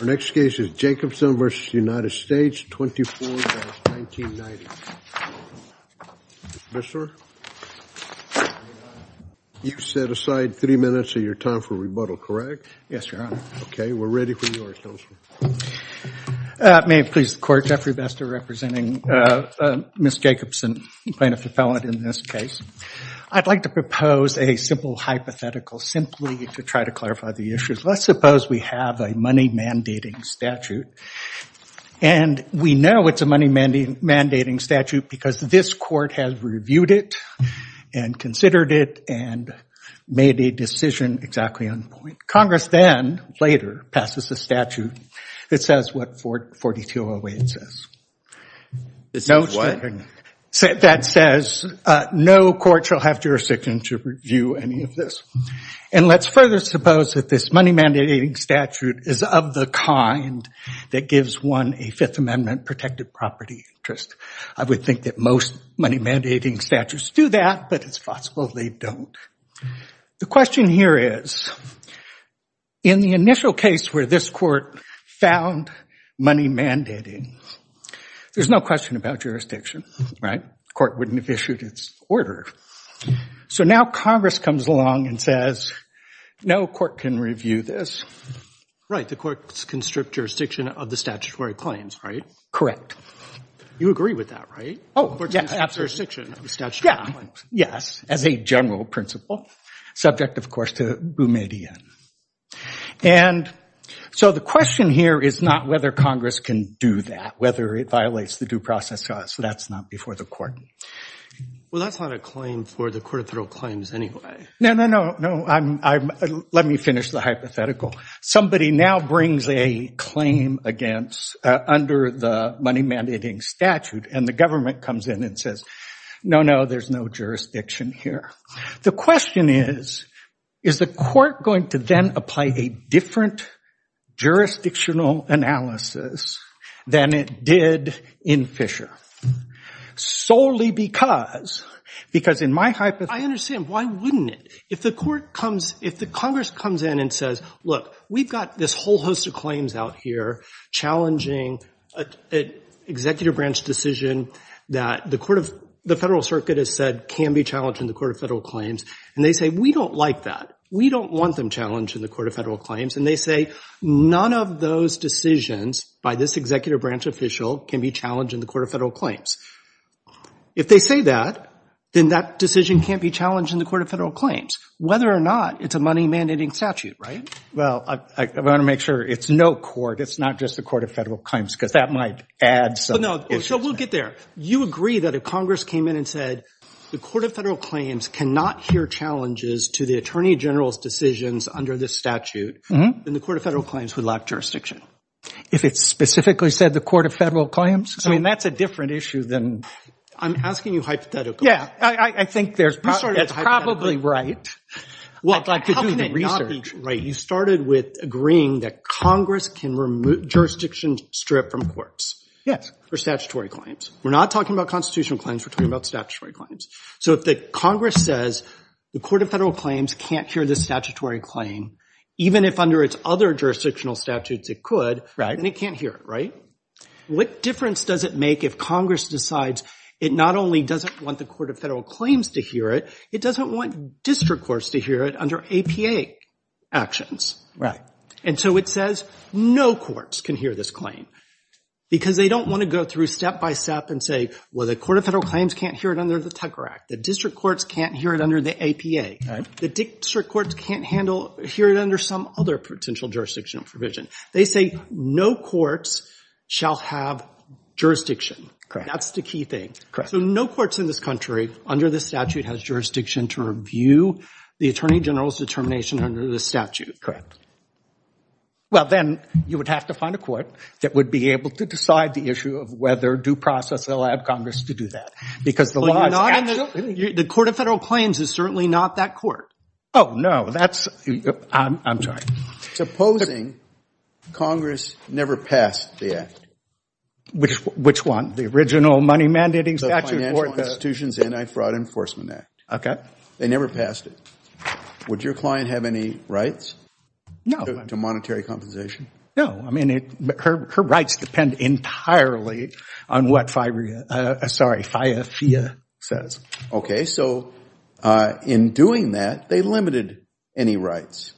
Our next case is Jacobson v. United States, 24-1990. Mr. Besser, you set aside three minutes of your time for rebuttal, correct? Yes, Your Honor. Okay, we're ready for yours, Counselor. May it please the Court, Jeffrey Besser representing Ms. Jacobson, plaintiff-appellant in this case. I'd like to propose a simple hypothetical simply to try to clarify the issues. Let's suppose we have a money-mandating statute, and we know it's a money-mandating statute because this Court has reviewed it and considered it and made a decision exactly on the point. Congress then, later, passes a statute that says what 4208 says. This is what? That says no court shall have jurisdiction to review any of this. And let's further suppose that this money-mandating statute is of the kind that gives one a Fifth Amendment protected property interest. I would think that most money-mandating statutes do that, but it's possible they don't. The question here is, in the initial case where this Court found money-mandating, there's no question about jurisdiction, right? The Court wouldn't have issued its order. So now Congress comes along and says, no court can review this. Right, the Court's constrict jurisdiction of the statutory claims, right? Correct. You agree with that, right? Oh, yes, absolutely. The Court's constrict jurisdiction of the statutory claims. Yes, as a general principle, subject, of course, to Boumediene. And so the question here is not whether Congress can do that, whether it violates the due process. That's not before the Court. Well, that's not a claim for the Court of Federal Claims anyway. No, no, no, no. Let me finish the hypothetical. Somebody now brings a claim under the money-mandating statute, and the government comes in and says, no, no, there's no jurisdiction here. The question is, is the Court going to then apply a different jurisdictional analysis than it did in Fisher? Solely because, because in my hypothesis, I understand, why wouldn't it? If the Court comes, if the Congress comes in and says, look, we've got this whole host of claims out here challenging an executive branch decision that the Federal Circuit has said can be challenged in the Court of Federal Claims, and they say, we don't like that. We don't want them challenged in the Court of Federal Claims. And they say, none of those decisions by this executive branch official can be challenged in the Court of Federal Claims. If they say that, then that decision can't be challenged in the Court of Federal Claims, whether or not it's a money-mandating statute, right? Well, I want to make sure it's no court. It's not just the Court of Federal Claims, because that might add something. So we'll get there. You agree that if Congress came in and said, the Court of Federal Claims cannot hear challenges to the Attorney General's decisions under this statute, then the Court of Federal Claims would lack jurisdiction? If it specifically said the Court of Federal Claims? I mean, that's a different issue than. I'm asking you hypothetically. Yeah, I think that's probably right. Well, how can it not be right? You started with agreeing that Congress can remove jurisdiction strip from courts. Yes, for statutory claims. We're not talking about constitutional claims. We're talking about statutory claims. So if Congress says, the Court of Federal Claims can't hear the statutory claim, even if under its other jurisdictional statutes it could, then it can't hear it, right? What difference does it make if Congress decides it not only doesn't want the Court of Federal Claims to hear it, it doesn't want district courts to hear it under APA actions? Right. And so it says, no courts can hear this claim. Because they don't want to go through step by step and say, well, the Court of Federal Claims can't hear it under the Tucker Act. The district courts can't hear it under the APA. The district courts can't hear it under some other potential jurisdictional provision. They say, no courts shall have jurisdiction. That's the key thing. So no courts in this country under this statute has jurisdiction to review the Attorney General's determination under this statute. Correct. Well, then you would have to find a court that would be able to decide the issue of whether due process allowed Congress to do that. Because the law is actually- The Court of Federal Claims is certainly not that court. Oh, no. That's- I'm sorry. Supposing Congress never passed the act? Which one? The original money mandating statute or the- The Financial Institutions Anti-Fraud Enforcement Act. OK. They never passed it. Would your client have any rights to monetary compensation? No. I mean, her rights depend entirely on what FIIA says. OK. So in doing that, they limited any rights.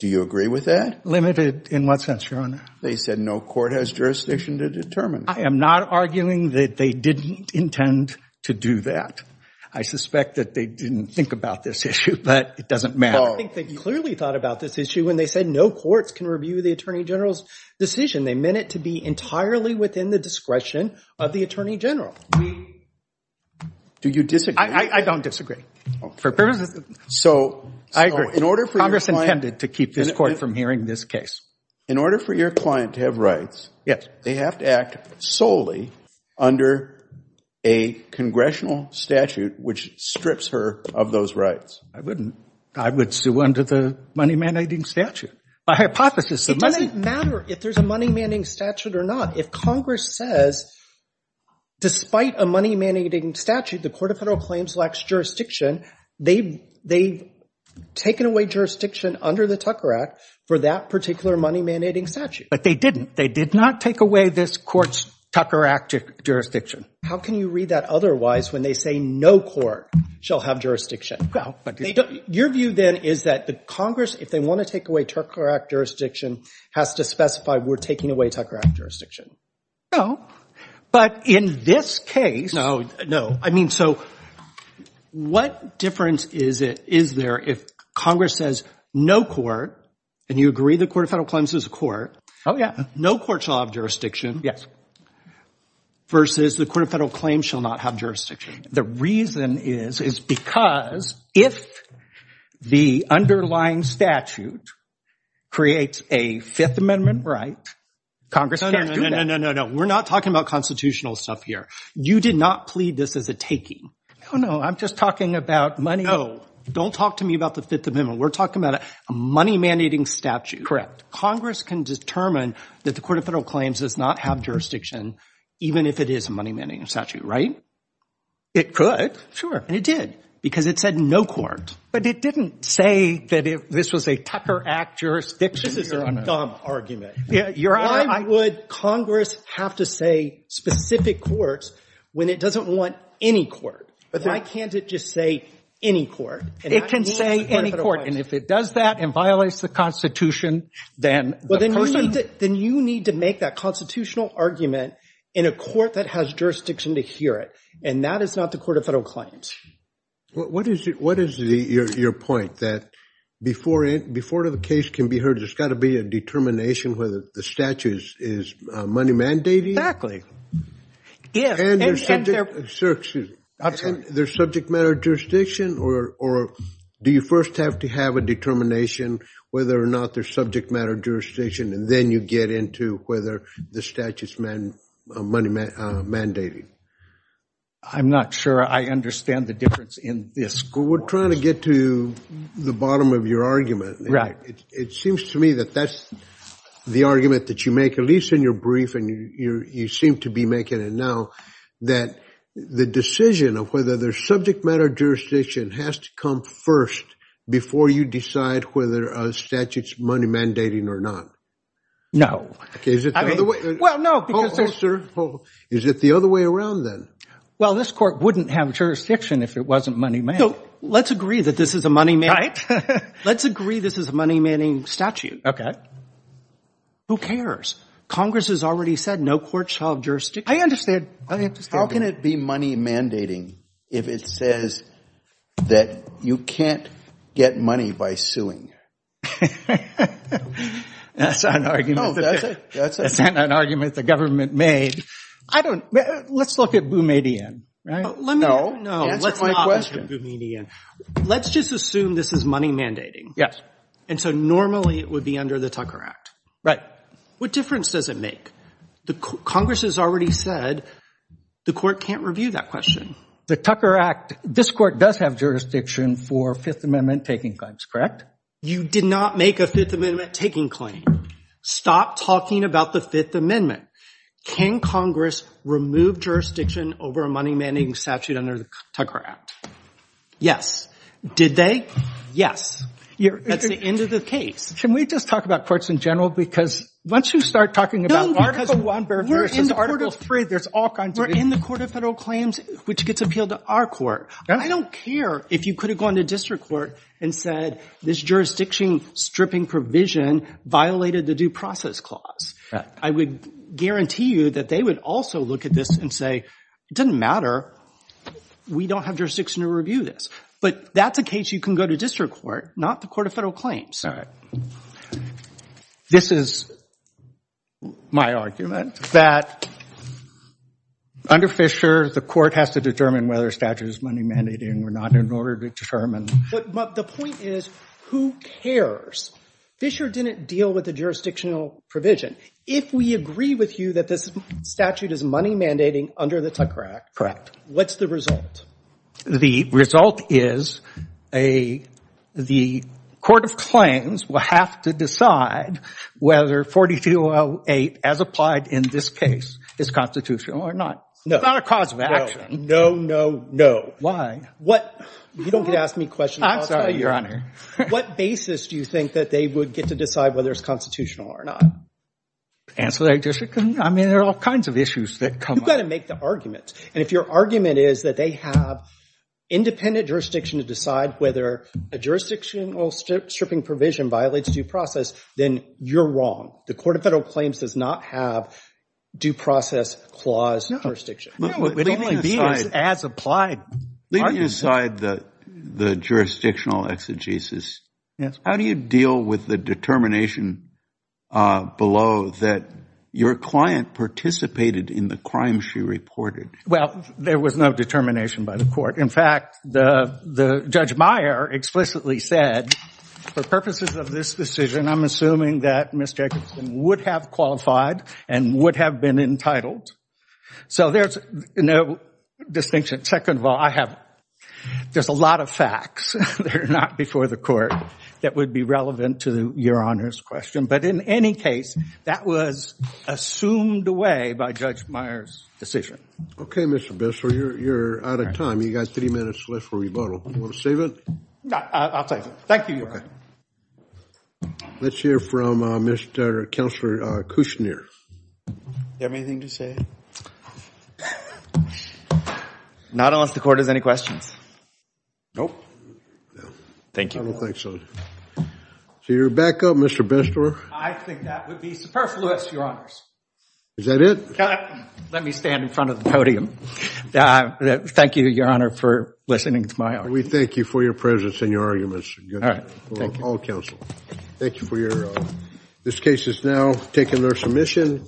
Do you agree with that? Limited in what sense, Your Honor? They said no court has jurisdiction to determine. I am not arguing that they didn't intend to do that. I suspect that they didn't think about this issue, but it doesn't matter. I think they clearly thought about this issue when they said no courts can review the Attorney General's decision. They meant it to be entirely within the discretion of the Attorney General. Do you disagree? I don't disagree. For purposes of- So- I agree. Congress intended to keep this court from hearing this case. In order for your client to have rights, they have to act solely under a congressional statute which strips her of those rights. I wouldn't. I would sue under the money mandating statute. By hypothesis, the money- It doesn't matter if there's a money mandating statute or not. If Congress says, despite a money mandating statute, the Court of Federal Claims lacks jurisdiction, they've taken away jurisdiction under the Tucker Act for that particular money mandating statute. But they didn't. They did not take away this court's Tucker Act jurisdiction. How can you read that otherwise when they say no court shall have jurisdiction? Your view then is that the Congress, if they want to take away Tucker Act jurisdiction, has to specify we're taking away Tucker Act jurisdiction. No, but in this case- No, no. So what difference is there if Congress says no court, and you agree the Court of Federal Claims is a court- Oh, yeah. No court shall have jurisdiction- Yes. Versus the Court of Federal Claims shall not have jurisdiction. The reason is, is because if the underlying statute creates a Fifth Amendment right, Congress can't do that. No, no, no, no, no, no, no. We're not talking about constitutional stuff here. You did not plead this as a taking. No, no, I'm just talking about money- Don't talk to me about the Fifth Amendment. We're talking about a money mandating statute. Congress can determine that the Court of Federal Claims does not have jurisdiction, even if it is a money mandating statute, right? It could. Sure. And it did, because it said no court. But it didn't say that if this was a Tucker Act jurisdiction- This is a dumb argument. Yeah, you're- Why would Congress have to say specific courts when it doesn't want any court? But why can't it just say any court? It can say any court. And if it does that and violates the Constitution, then the person- Then you need to make that constitutional argument in a court that has jurisdiction to hear it. And that is not the Court of Federal Claims. What is your point? That before the case can be heard, there's got to be a determination whether the statute is money mandating? And there's subject matter jurisdiction, or do you first have to have a determination whether or not there's subject matter jurisdiction, and then you get into whether the statute's money mandating? I'm not sure I understand the difference in this. Well, we're trying to get to the bottom of your argument. Right. It seems to me that that's the argument that you make, at least in your brief, and you seem to be making it now, that the decision of whether there's subject matter jurisdiction has to come first before you decide whether a statute's money mandating or not. No. Okay, is it the other way- Well, no, because- Hold, hold, sir. Is it the other way around, then? Well, this court wouldn't have jurisdiction if it wasn't money mandating. Let's agree that this is a money- Right. Let's agree this is a money-mandating statute. Okay. Who cares? Congress has already said no court shall have jurisdiction. I understand. I understand. How can it be money mandating if it says that you can't get money by suing? That's an argument the government made. Let's look at Boumediene, right? No, answer my question. Let's just assume this is money mandating. And so normally it would be under the Tucker Act. Right. What difference does it make? Congress has already said the court can't review that question. The Tucker Act, this court does have jurisdiction for Fifth Amendment-taking claims, correct? You did not make a Fifth Amendment-taking claim. Stop talking about the Fifth Amendment. Can Congress remove jurisdiction over a money-mandating statute under the Tucker Act? Yes. Did they? Yes. That's the end of the case. Can we just talk about courts in general? Because once you start talking about Article I versus Article III, there's all kinds of- We're in the Court of Federal Claims, which gets appealed to our court. I don't care if you could have gone to district court and said, this jurisdiction-stripping provision violated the Due Process Clause. I would guarantee you that they would also look at this and say, it doesn't matter. We don't have jurisdiction to review this. But that's a case you can go to district court, not the Court of Federal Claims. This is my argument, that under Fisher, the court has to determine whether a statute is money-mandating or not in order to determine- But the point is, who cares? Fisher didn't deal with the jurisdictional provision. If we agree with you that this statute is money-mandating under the Tucker Act- What's the result? The result is the Court of Claims will have to decide whether 4208, as applied in this case, is constitutional or not. No. It's not a cause of action. No, no, no. Why? You don't get to ask me questions. I'm sorry, Your Honor. What basis do you think that they would get to decide whether it's constitutional or not? Answer that, Justice Kennedy. I mean, there are all kinds of issues that come up. You've got to make the argument. And if your argument is that they have independent jurisdiction to decide whether a jurisdictional stripping provision violates due process, then you're wrong. The Court of Federal Claims does not have due process clause jurisdiction. No, it would only be as applied. Leaving aside the jurisdictional exegesis, how do you deal with the determination of below that your client participated in the crime she reported? Well, there was no determination by the Court. In fact, the Judge Meyer explicitly said, for purposes of this decision, I'm assuming that Ms. Jacobson would have qualified and would have been entitled. So there's no distinction. Second of all, I have- There's a lot of facts that are not before the Court that would be relevant to Your Honor's question, but in any case, that was assumed away by Judge Meyer's decision. Okay, Mr. Bessler, you're out of time. You've got three minutes left for rebuttal. You want to save it? I'll save it. Thank you, Your Honor. Let's hear from Mr. Counselor Kushner. Do you have anything to say? Not unless the Court has any questions. Nope. Thank you. I don't think so. So you're back up, Mr. Bessler. I think that would be superfluous, Your Honors. Is that it? Let me stand in front of the podium. Thank you, Your Honor, for listening to my argument. We thank you for your presence and your arguments. All counsel. Thank you for your- This case has now taken their submission.